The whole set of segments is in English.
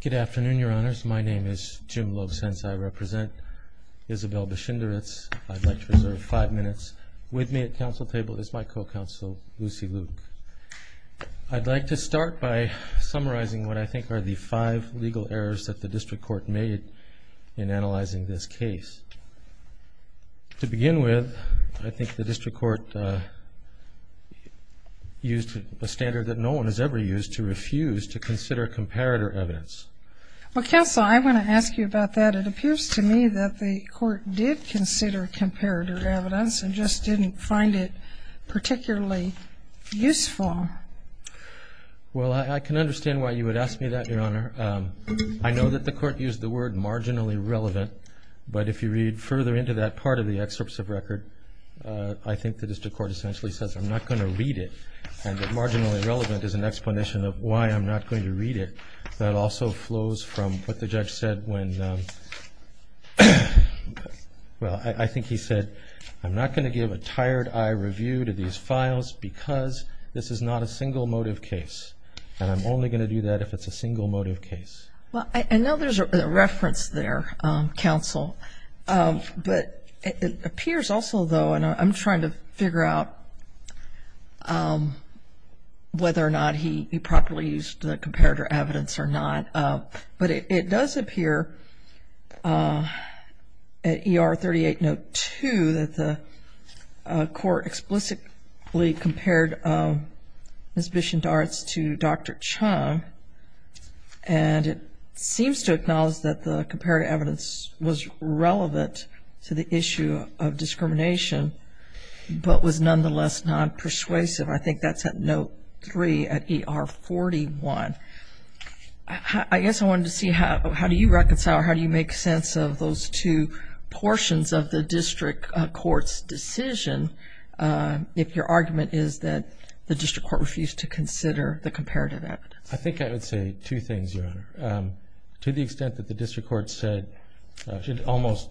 Good afternoon, Your Honors. My name is Jim Lovesense. I represent Isabelle Bichindaritz. I'd like to reserve five minutes. With me at council table is my co-counsel Lucy Luke. I'd like to start by summarizing what I think are the five legal errors that the District Court made in analyzing this case. To begin with, I think the District Court used a standard that no one has ever used to refuse to consider comparator evidence. Well, counsel, I want to ask you about that. It appears to me that the court did consider comparator evidence and just didn't find it particularly useful. Well, I can understand why you would ask me that, Your Honor. I know that the court used the word marginally relevant, but if you read further into that part of the excerpts of record, I think the District Court essentially says, I'm not going to read it, and that marginally relevant is an explanation of why I'm not going to read it. That also flows from what the judge said when, well, I think he said, I'm not going to give a tired eye review to these files because this is not a single motive case. And I'm only going to do that if it's a single motive case. Well, I know there's a reference there, counsel, but it appears also, though, and I'm trying to figure out whether or not he properly used the comparator evidence or not, but it does appear at ER 38 Note 2 that the court explicitly compared Ms. Bishendarts to Dr. Chung and it seems to acknowledge that the comparator evidence was relevant to the issue of discrimination but was nonetheless not persuasive. I think that's at Note 3 at ER 41. I guess I wanted to see how do you reconcile or how do you make sense of those two portions of the District Court's decision if your argument is that the District Court refused to consider the comparative evidence? I think I would say two things, Your Honor. To the extent that the District Court said, almost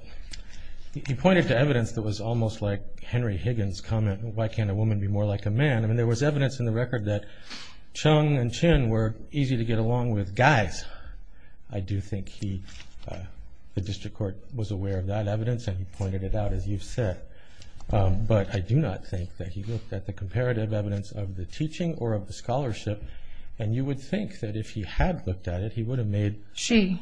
he pointed to evidence that was almost like Henry Higgins' comment why can't a woman be more like a man? I mean, there was evidence in the record that Chung and Chin were easy to get along with guys. I do think the District Court was aware of that evidence and pointed it out, as you've said. But I do not think that he looked at the comparative evidence of the teaching or of the scholarship and you would think that if he had looked at it, he would have made... She.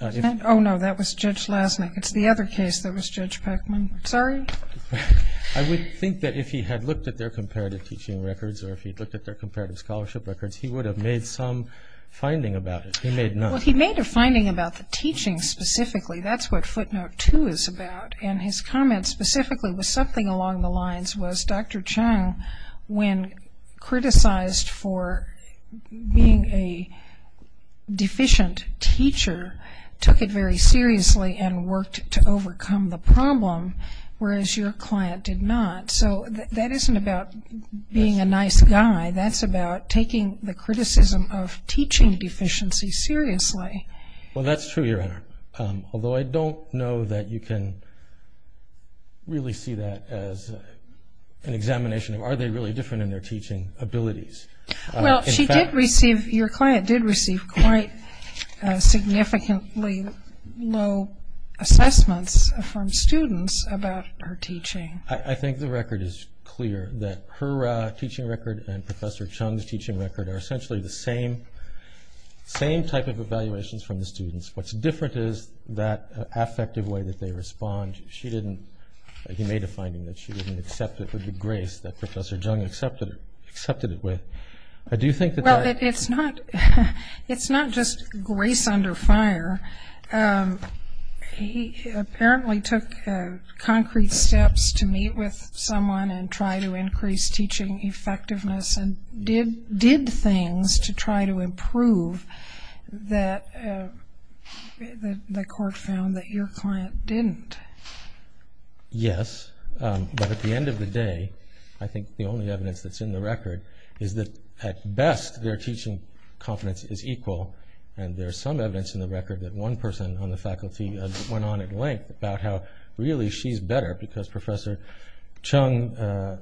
Oh, no. That was Judge Lasnik. It's the other case that was Judge Peckman. Sorry? I would think that if he had looked at their comparative teaching records or if he had looked at their comparative scholarship records, he would have made some finding about it. He made none. Well, he made a finding about the teaching specifically. That's what footnote 2 is about. And his comment specifically was something along the lines was Dr. Chung when criticized for being a deficient teacher, took it very seriously and worked to overcome the problem, whereas your client did not. So that isn't about being a nice guy. That's about taking the criticism of teaching deficiency seriously. Well, that's true, Your Honor. Although I don't know that you can really see that as an examination of are they really different in their teaching abilities. Well, she did receive your client did receive quite significantly low assessments from students about her teaching. I think the record is clear that her teaching record and Professor Chung's teaching record are essentially the same type of evaluations from the students. What's different is that affective way that they respond. She didn't... He made a finding that she didn't accept it with the grace that Professor Chung accepted it with. Well, it's not just grace under fire. He apparently took concrete steps to meet with someone and try to increase teaching effectiveness and did things to try to improve that the court found that your client didn't. Yes, but at the end of the day, I think the only at best, their teaching confidence is equal. There's some evidence in the record that one person on the faculty went on at length about how really she's better because Professor Chung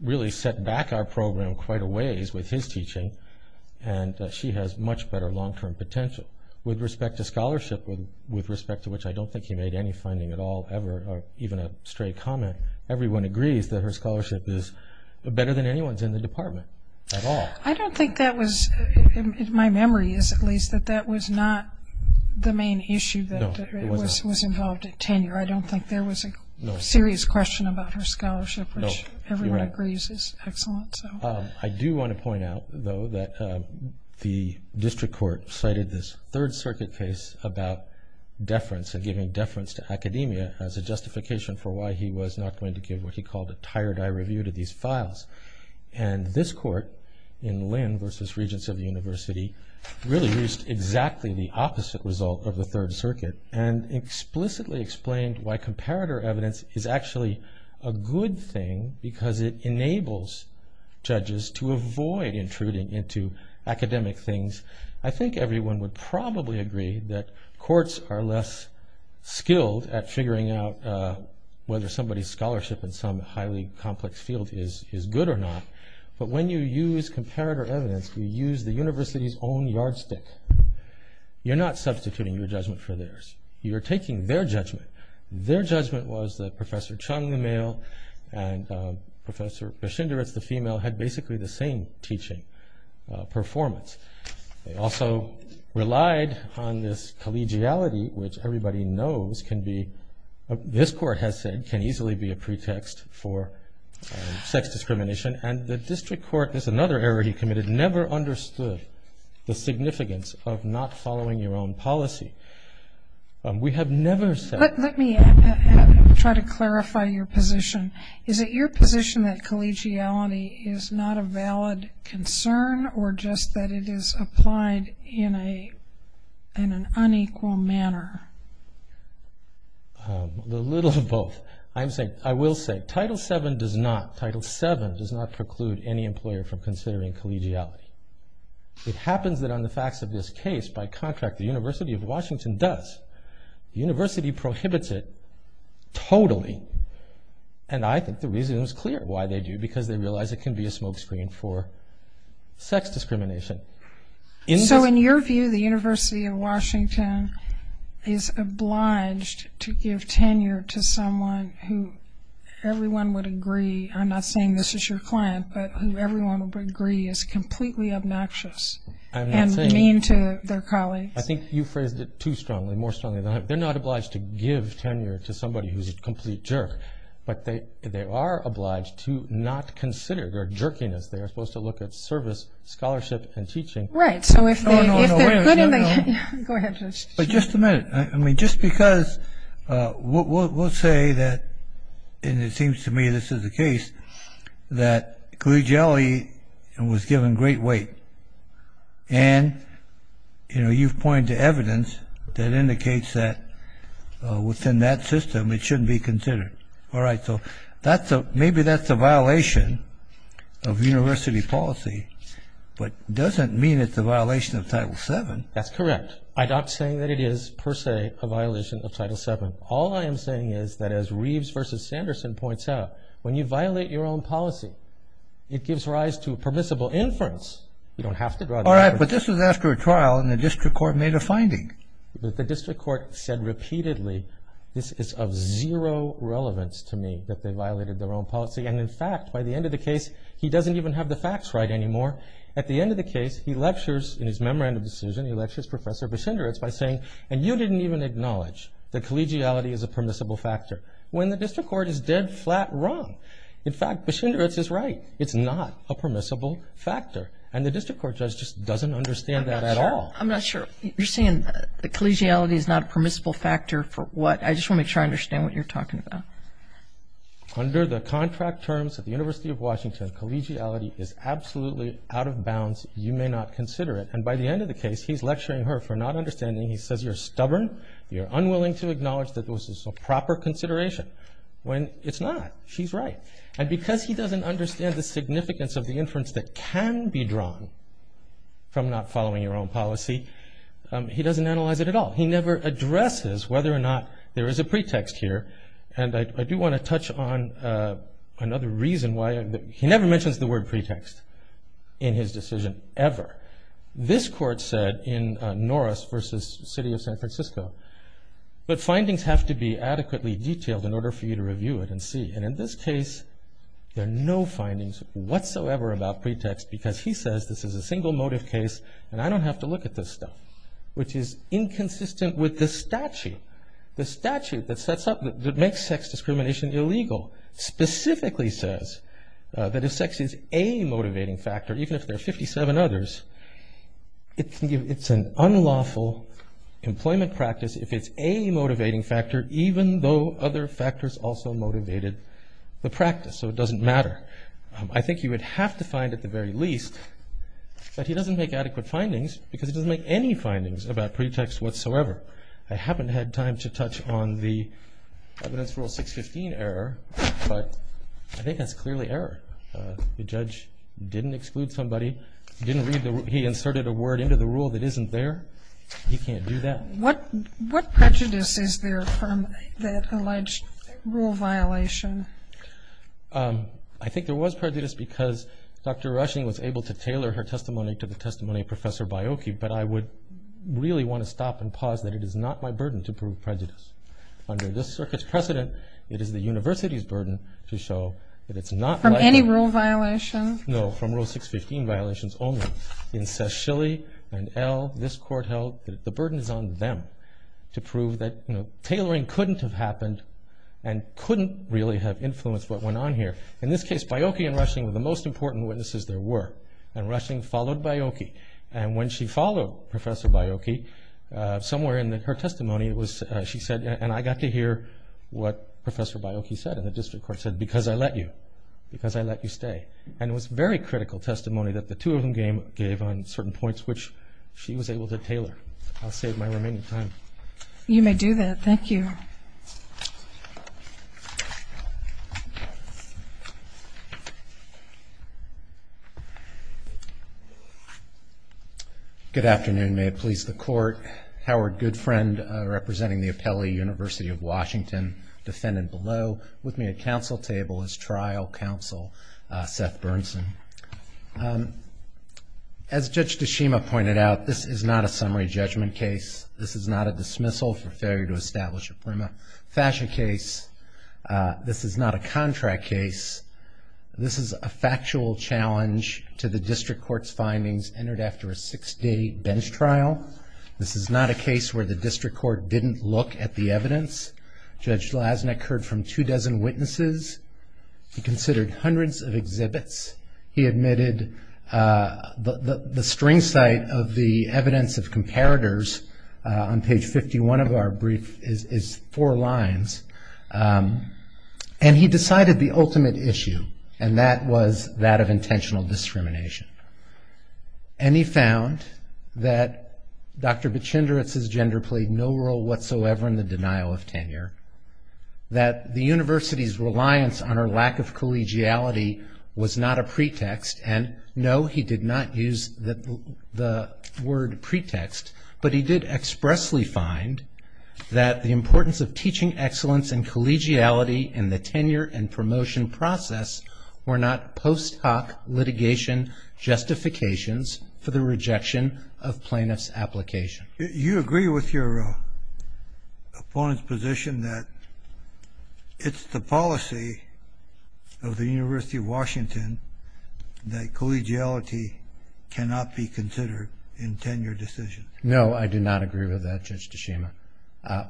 really set back our program quite a ways with his teaching and she has much better long-term potential. With respect to scholarship, with respect to which I don't think he made any finding at all ever or even a straight comment, everyone agrees that her scholarship is better than anyone's in the department at all. I don't think that was my memory is at least that that was not the main issue that was involved at tenure. I don't think there was a serious question about her scholarship, which everyone agrees is excellent. I do want to point out, though, that the district court cited this Third Circuit case about deference and giving deference to academia as a justification for why he was not going to give what he was, and this court in Lynn versus Regents of the University really used exactly the opposite result of the Third Circuit and explicitly explained why comparator evidence is actually a good thing because it enables judges to avoid intruding into academic things. I think everyone would probably agree that courts are less skilled at figuring out whether somebody's scholarship in some highly complex field is good or not, but when you use comparator evidence, you use the university's own yardstick. You're not substituting your judgment for theirs. You're taking their judgment. Their judgment was that Professor Chung, the male, and Professor Beshinderitz, the female, had basically the same teaching performance. They also relied on this collegiality, which everybody knows can be, this court has said, can easily be a pretext for sex discrimination, and the district court, this is another error he committed, never understood the significance of not following your own policy. We have never said... Let me try to clarify your position. Is it your position that collegiality is not a valid concern or just that it is applied in an unequal manner? A little of both. I will say, Title VII does not preclude any employer from considering collegiality. It happens that on the facts of this case, by contract, the University of Washington does. The university prohibits it totally, and I think the reason is clear why they do, because they realize it can be a smokescreen for sex discrimination. So in your view, the University of Washington is obliged to give tenure to someone who everyone would agree, I'm not saying this is your client, but who everyone would agree is completely obnoxious and mean to their colleagues? I think you phrased it too strongly, more strongly than I have. They're not obliged to give tenure to somebody who's a complete jerk, but they are obliged to not consider their jerkiness. They are supposed to look at service, scholarship, and teaching. Right, so if they're good in the... Just a minute, just because, we'll say that and it seems to me this is the case, that collegiality was given great weight, and you've pointed to evidence that indicates that within that system it shouldn't be considered. Maybe that's a violation of university policy, but doesn't mean it's a violation of Title VII. That's correct. I'm not saying that it is, per se, a violation of Title VII. All I am saying is that as Reeves v. Sanderson points out, when you violate your own policy, it gives rise to permissible inference. You don't have to draw the line. Alright, but this was after a trial and the district court made a finding. The district court said repeatedly, this is of zero relevance to me, that they violated their own policy, and in fact, by the end of the case, he doesn't even have the facts right anymore. At the end of the case, he lectures in his memorandum decision, he lectures Professor Bischendritz by saying, and you didn't even acknowledge that collegiality is a permissible factor, when the district court is dead flat wrong. In fact, Bischendritz is right. It's not a permissible factor, and the district court judge just doesn't understand that at all. I'm not sure, you're saying collegiality is not a permissible factor for what, I just want to make sure I understand what you're talking about. Under the contract terms of the University of Washington, collegiality is absolutely out of bounds, you may not consider it, and by the end of the case, he's lecturing her for not understanding, he says, you're stubborn, you're unwilling to acknowledge that this is a proper consideration, when it's not. She's right. And because he doesn't understand the significance of the inference that can be drawn from not following your own policy, he doesn't analyze it at all. He never addresses whether or not there is a pretext here, and I do want to touch on another reason why, he never mentions the word pretext in his decision, ever. This court said in Norris v. City of San Francisco, but findings have to be adequately detailed in order for you to review it and see, and in this case, there are no findings whatsoever about pretext, because he says this is a single motive case, and I don't have to look at this stuff, which is inconsistent with the statute. The statute that sets up, that makes sex discrimination illegal, specifically says that if sex is a motivating factor, even if there are 57 others, it's an unlawful employment practice if it's a motivating factor, even though other factors also motivated the practice, so it doesn't matter. I think you would have to find at the very least that he doesn't make adequate findings, because he doesn't make any findings about pretext whatsoever. I haven't had time to touch on the evidence rule 615 error, but I think that's clearly error. The judge didn't exclude somebody, he inserted a word into the rule that isn't there, he can't do that. What prejudice is there from that alleged rule violation? I think there was prejudice because Dr. Rushing was able to tailor her testimony to the testimony of Professor Baiocchi, but I would really want to stop and pause that it is not my burden to prove prejudice. Under this circuit's precedent, it is the university's burden to show that it's not my... From any rule violation? No, from rule 615 violations only. In Sashilly and El, this court held that the burden is on them to prove that tailoring couldn't have happened and couldn't really have influenced what went on here. In this case, Baiocchi and Rushing were the most important witnesses there were, and Rushing followed Baiocchi, and when she followed Professor Baiocchi, somewhere in her testimony she said and I got to hear what Professor Baiocchi said and the district court said, because I let you, because I let you stay. And it was very critical testimony that the two of them gave on certain points which she was able to tailor. I'll save my remaining time. You may do that, thank you. Good afternoon, may it please the court. Howard Goodfriend, representing the Apelli University of Washington, defendant below. With me at council table is trial counsel Seth Bernson. As Judge Tashima pointed out, this is not a summary judgment case. This is not a dismissal for failure to establish a prima facie case. This is not a contract case. This is a factual challenge to the district court's findings entered after a six day bench trial. This is not a case where the district court didn't look at the evidence. Judge Lasnek heard from two dozen witnesses. He considered hundreds of exhibits. He admitted the string site of the evidence of comparators on page 51 of our brief is four lines. And he decided the ultimate issue. And that was that of intentional discrimination. And he found that Dr. Bichinderitz's gender played no role whatsoever in the denial of tenure. That the university's reliance on her lack of collegiality was not a pretext. And no, he did not use the word pretext. But he did expressly find that the importance of teaching excellence and collegiality in the tenure and promotion process were not post hoc litigation justifications for the rejection of plaintiff's application. You agree with your opponent's position that it's the policy of the University of Washington that collegiality cannot be considered in tenure decisions? No, I do not agree with that, Judge Tashima.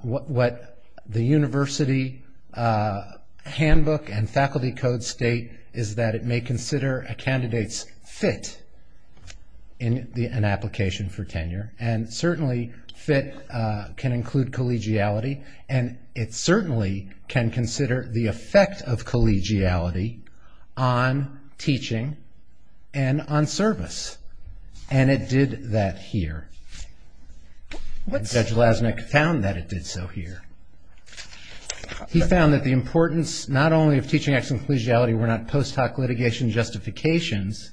What the university handbook and faculty code state is that it may consider a candidate's fit in an application for tenure. And certainly fit can include collegiality. And it certainly can consider the effect of collegiality on teaching and on service. And it did that here. Judge Lasnik found that it did so here. He found that the importance not only of teaching excellence and collegiality were not post hoc litigation justifications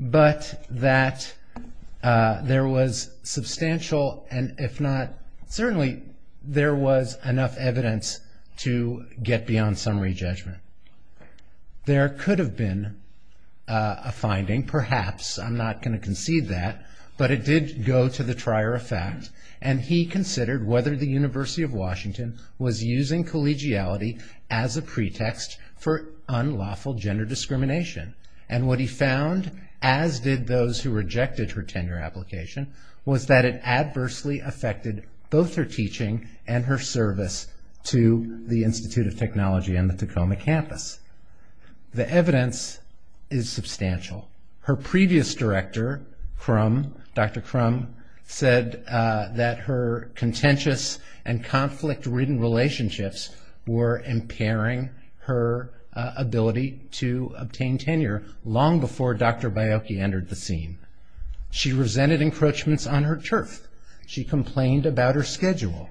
but that there was substantial and if not, certainly there was enough evidence to get beyond summary judgment. There could have been a finding, perhaps I'm not going to concede that, but it did go to the trier of fact and he considered whether the University of Washington was using collegiality as a pretext for unlawful gender discrimination. And what he found, as did those who rejected her tenure application, was that it adversely affected both her teaching and her service to the Institute of Technology and the Tacoma campus. The evidence is substantial. Her previous director, Dr. Crum, said that her contentious and conflict-ridden relationships were impairing her ability to obtain tenure long before Dr. Biocchi entered the scene. She resented encroachments on her turf. She complained about her schedule.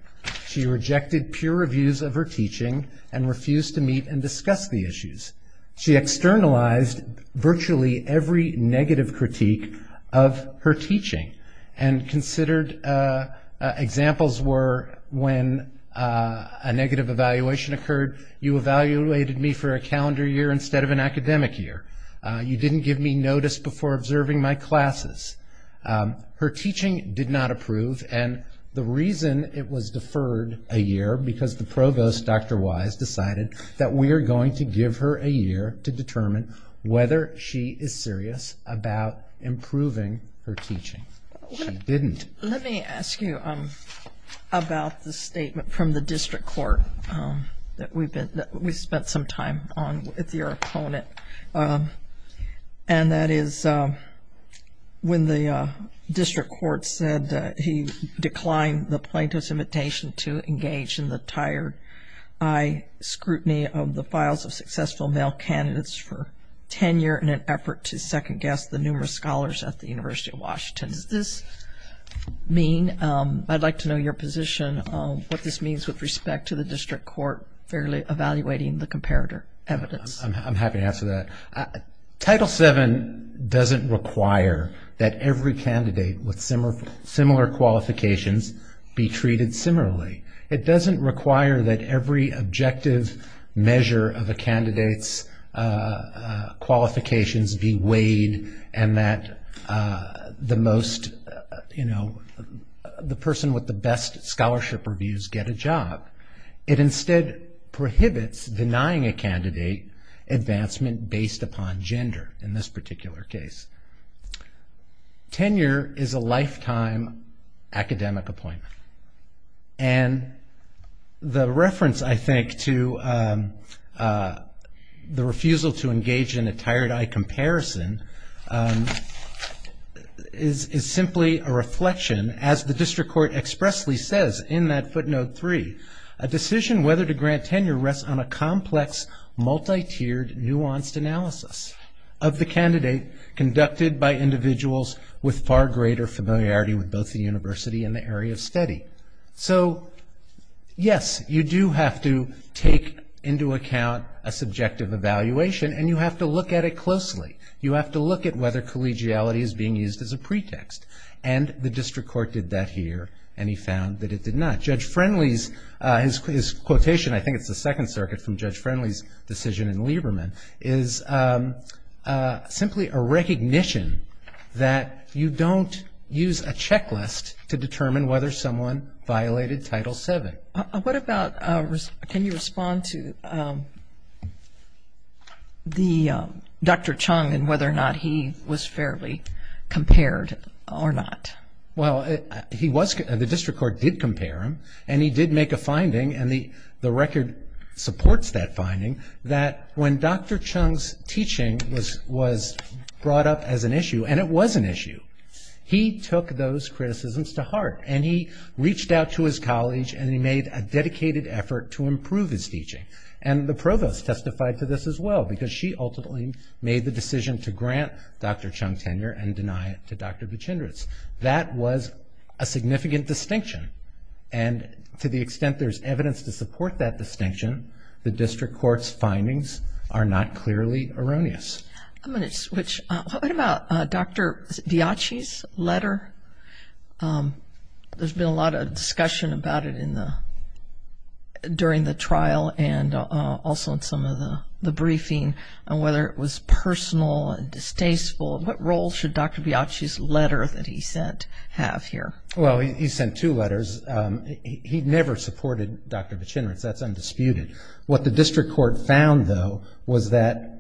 She rejected peer reviews of her teaching and refused to meet and discuss the academic year. She criticized virtually every negative critique of her teaching and considered examples were when a negative evaluation occurred, you evaluated me for a calendar year instead of an academic year. You didn't give me notice before observing my classes. Her teaching did not approve and the reason it was deferred a year because the provost, Dr. Wise, decided that we are going to give her a year to determine whether she is serious about improving her teaching. She didn't. Let me ask you about the statement from the district court that we spent some time on with your opponent. And that is when the district court said he declined the plaintiff's invitation to engage in the high scrutiny of the files of successful male candidates for tenure in an effort to second guess the numerous scholars at the University of Washington. Does this mean I'd like to know your position of what this means with respect to the district court fairly evaluating the comparative evidence. I'm happy to answer that. Title VII doesn't require that every candidate with similar qualifications be treated similarly. It doesn't require that every objective measure of a candidate's qualifications be weighed and that the person with the best scholarship reviews get a job. It instead prohibits denying a candidate advancement based upon gender in this particular case. Tenure is a lifetime academic appointment. The reference I think to the refusal to engage in a tired eye comparison is simply a reflection as the district court expressly says in that footnote three. A decision whether to grant tenure rests on a complex multi-tiered nuanced analysis of the candidate conducted by individuals with far greater familiarity with both the university and the area of study. Yes, you do have to take into account a subjective evaluation and you have to look at it closely. You have to look at whether collegiality is being used as a pretext. The district court did that here and he found that it did not. Judge Friendly's quotation, I think it's the second circuit from Judge Friendly's decision in Lieberman, is simply a recognition that you don't use a checklist to determine whether someone violated Title VII. Can you respond to Dr. Chung and whether or not he was fairly compared or not? The district court did compare him and he did make a finding and the record supports that finding that when Dr. Chung's brought up as an issue, and it was an issue, he took those criticisms to heart and he reached out to his college and he made a dedicated effort to improve his teaching. And the provost testified to this as well because she ultimately made the decision to grant Dr. Chung tenure and deny it to Dr. Buchendris. That was a significant distinction and to the extent there's evidence to support that distinction, the district court's findings are not clearly erroneous. I'm going to switch. What about Dr. Biaggi's letter? There's been a lot of discussion about it during the trial and also in some of the briefing and whether it was personal and distasteful. What role should Dr. Biaggi's letter that he sent have here? Well, he sent two letters. He never supported Dr. Buchendris. That's undisputed. What the district court found, though, was that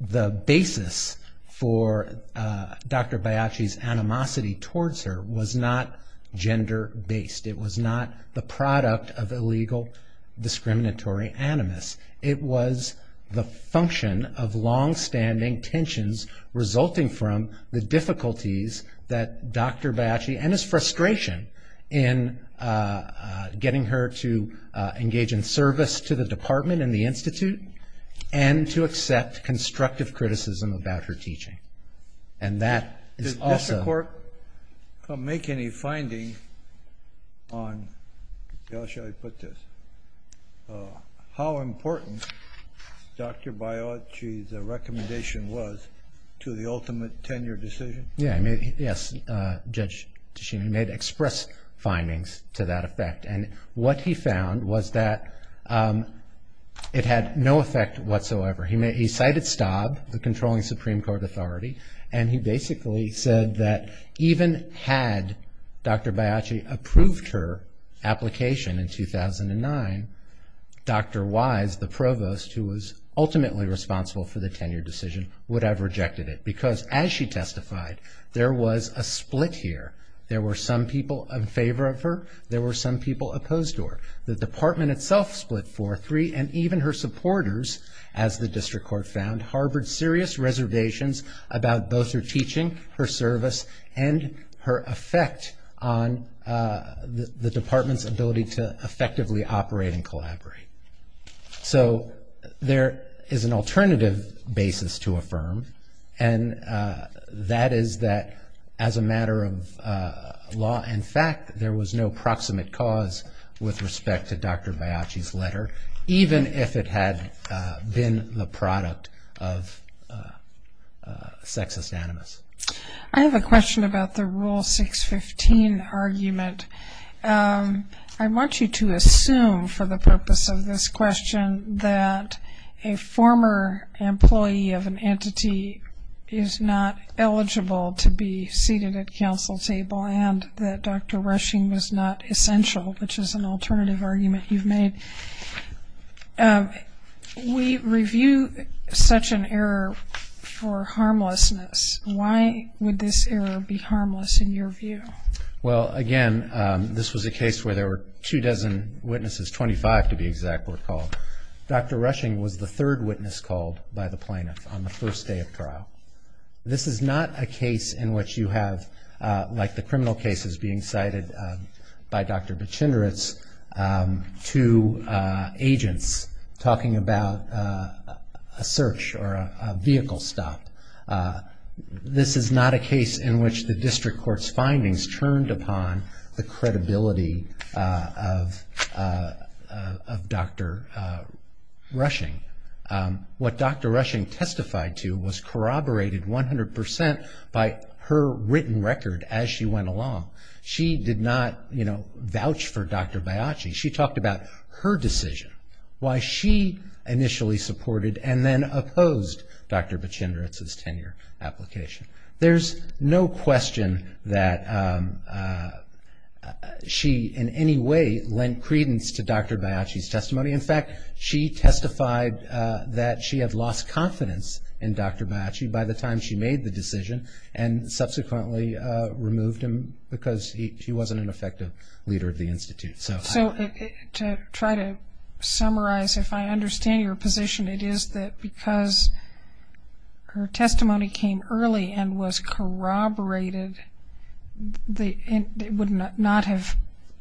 the basis for Dr. Biaggi's animosity towards her was not gender based. It was not the product of illegal discriminatory animus. It was the function of longstanding tensions resulting from the difficulties that Dr. Biaggi and his frustration in getting her to engage in the department and the institute and to accept constructive criticism about her teaching. Did the district court make any finding on how important Dr. Biaggi's recommendation was to the ultimate tenure decision? Yes, Judge Tichini made express findings to that effect. What he found was that it had no effect whatsoever. He cited Staub, the controlling Supreme Court authority, and he basically said that even had Dr. Biaggi approved her application in 2009, Dr. Wise, the provost who was ultimately responsible for the tenure decision, would have rejected it because as she testified there was a split here. There were some people in favor of her. There were some people opposed to her. The department itself split for three and even her supporters, as the district court found, harbored serious reservations about both her teaching, her service, and her effect on the department's ability to effectively operate and collaborate. There is an alternative basis to affirm, and that is that as a matter of law and fact, there was no proximate cause with respect to Dr. Biaggi's letter, even if it had been the product of sexist animus. I have a question about the Rule 615 argument. I want you to assume, for the purpose of this question, that a former employee of an entity is not eligible to be seated at council table and that Dr. Rushing was not essential, which is an alternative argument you've made. We review such an error for harmlessness. Why would this error be harmless in your view? Well, again, this was a case where there were two dozen witnesses, 25 to be exact, were called. Dr. Rushing was the third witness called by the plaintiff on the first day of trial. This is not a case in which you have, like the criminal cases being cited by Dr. Bichinderitz, two agents talking about a search or a vehicle stop. This is not a case in which the district court's findings turned upon the credibility of Dr. Rushing. What Dr. Bichinderitz did was elaborate 100% by her written record as she went along. She did not vouch for Dr. Biachi. She talked about her decision, why she initially supported and then opposed Dr. Bichinderitz's tenure application. There's no question that she in any way lent credence to Dr. Biachi's testimony. In fact, she testified that she had lost confidence in Dr. Biachi by the time she made the decision and subsequently removed him because he wasn't an effective leader of the Institute. So to try to summarize if I understand your position, it is that because her testimony came early and was corroborated, it would not have,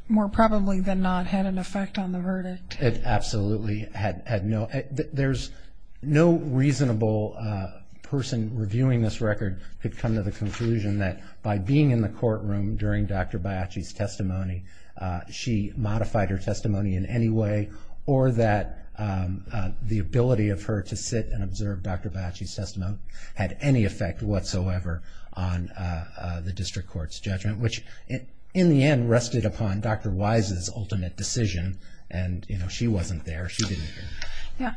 more probably than not, had an effect on the verdict. It absolutely had no there's no reasonable person reviewing this record could come to the conclusion that by being in the courtroom during Dr. Biachi's testimony, she modified her testimony in any way or that the ability of her to sit and observe Dr. Biachi's testimony had any effect whatsoever on the district court's judgment, which in the end rested upon Dr. Wise's ultimate decision and she wasn't there.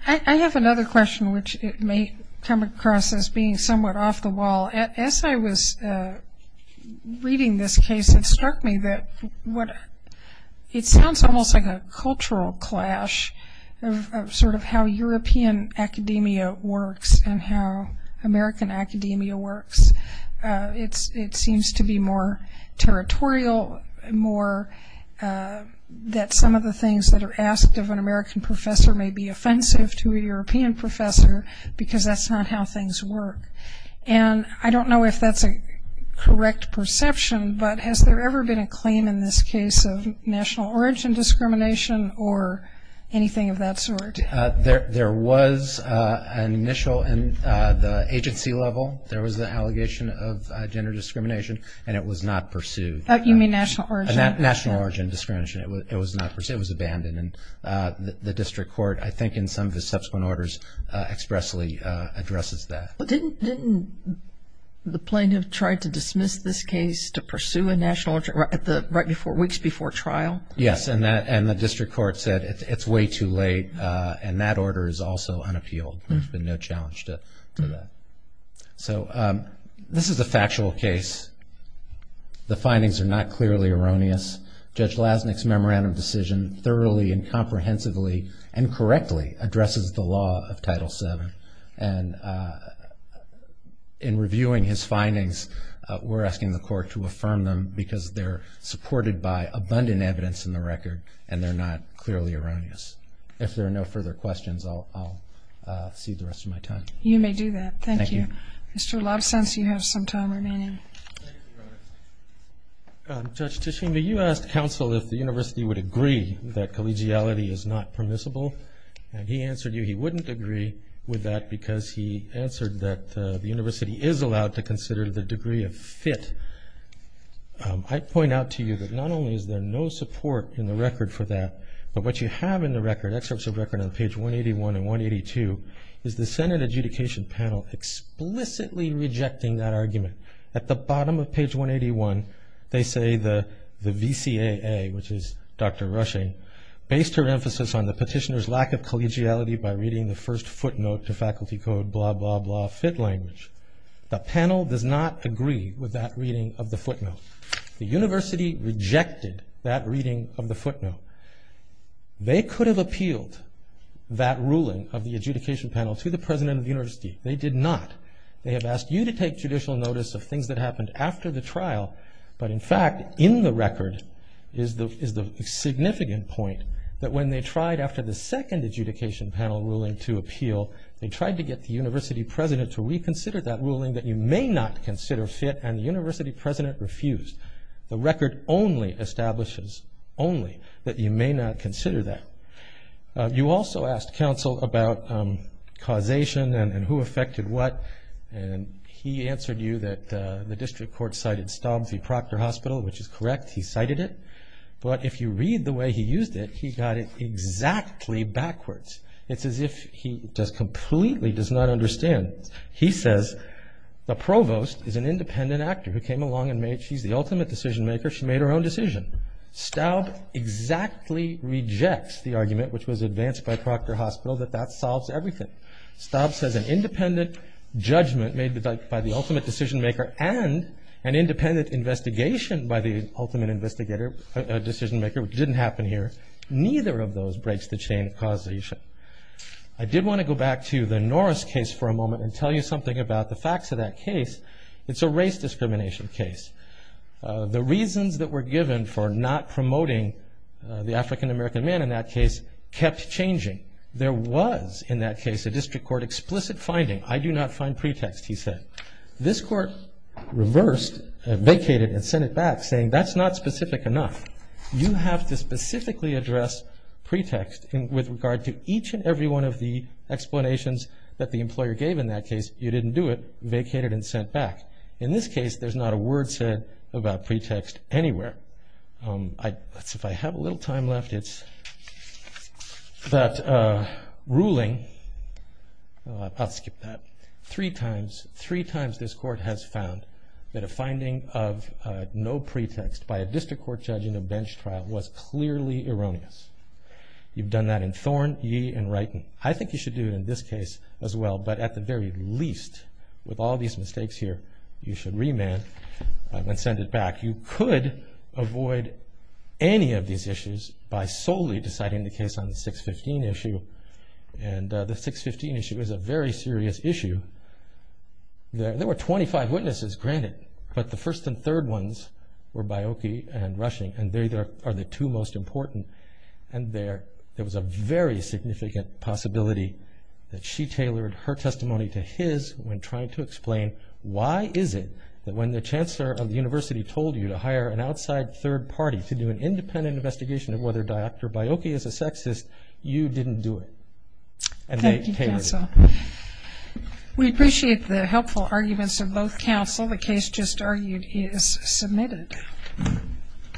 I have another question which may come across as being somewhat off the wall. As I was reading this case, it struck me that it sounds almost like a cultural clash of sort of how European academia works and how to be more territorial, more that some of the things that are asked of an American professor may be offensive to a European professor because that's not how things work. And I don't know if that's a correct perception, but has there ever been a claim in this case of national origin discrimination or anything of that sort? There was an initial in the agency level there was an allegation of gender discrimination and it was not pursued. You mean national origin? National origin discrimination. It was not pursued. It was abandoned. The district court, I think in some of the subsequent orders expressly addresses that. Didn't the plaintiff try to dismiss this case to pursue a national origin weeks before trial? Yes, and the district court said it's way too late and that order is also unappealed. There's been no challenge to that. So this is a factual case. The findings are not clearly erroneous. Judge Lasnik's memorandum decision thoroughly and comprehensively and correctly addresses the law of Title VII and in reviewing his findings, we're asking the court to affirm them because they're supported by abundant evidence in the record and they're not clearly erroneous. If there are no further questions, I'll cede the rest of my time. You may do that. Thank you. Thank you. Judge Tishina, you asked counsel if the university would agree that collegiality is not permissible and he answered you he wouldn't agree with that because he answered that the university is allowed to consider the degree of fit. I point out to you that not only is there no support in the record for that, but what you have in the record, excerpts of record on page 181 and 182, is the Senate adjudication panel explicitly rejecting that argument. At the bottom of page 181, they say the VCAA, which is Dr. Rushing, based her emphasis on the petitioner's lack of collegiality by reading the first footnote to faculty code, blah, blah, blah, fit language. The panel does not agree with that reading of the footnote. The university rejected that reading of the footnote. They could have appealed that ruling of the adjudication panel to the president of the university. They did not. They have asked you to take judicial notice of things that happened after the trial, but in fact, in the record, is the significant point that when they tried after the second adjudication panel ruling to appeal, they tried to get the university president to reconsider that ruling that you may not consider fit and the university president refused. The record only establishes, only, that you may not consider that. You also asked counsel about causation and who affected what, and he answered you that the district court cited Staub v. Proctor Hospital, which is correct. He cited it, but if you read the way he used it, he got it exactly backwards. It's as if he just completely does not understand. He says, the provost is an independent actor who came along and made, she's the ultimate decision maker, she made her own decision. Staub exactly rejects the argument, which was everything. Staub says an independent judgment made by the ultimate decision maker and an independent investigation by the ultimate decision maker, which didn't happen here, neither of those breaks the chain of causation. I did want to go back to the Norris case for a moment and tell you something about the facts of that case. It's a race discrimination case. The reasons that were given for not promoting the African American man in that case kept changing. There was, in that case, a district court explicit finding. I do not find pretext, he said. This court reversed, vacated, and sent it back, saying that's not specific enough. You have to specifically address pretext with regard to each and every one of the explanations that the employer gave in that case. You didn't do it. Vacated and sent back. In this case, there's not a word said about pretext anywhere. If I have a little time left, it's that ruling three times this court has found that a finding of no pretext by a district court judge in a bench trial was clearly erroneous. You've done that in Thorn, Yee, and Wrighton. I think you should do it in this case as well, but at the very least, with all these mistakes here, you should remand and send it back. You could avoid any of these issues by solely deciding the case on the 615 issue. The 615 issue is a very serious issue. There were 25 witnesses, granted, but the first and third ones were Bioki and Rushing, and they are the two most important. There was a very significant possibility that she tailored her testimony to his when she told you to hire an outside third party to do an independent investigation of whether Dr. Bioki is a sexist. You didn't do it. Thank you, counsel. We appreciate the helpful arguments of both counsel. The case just argued is submitted.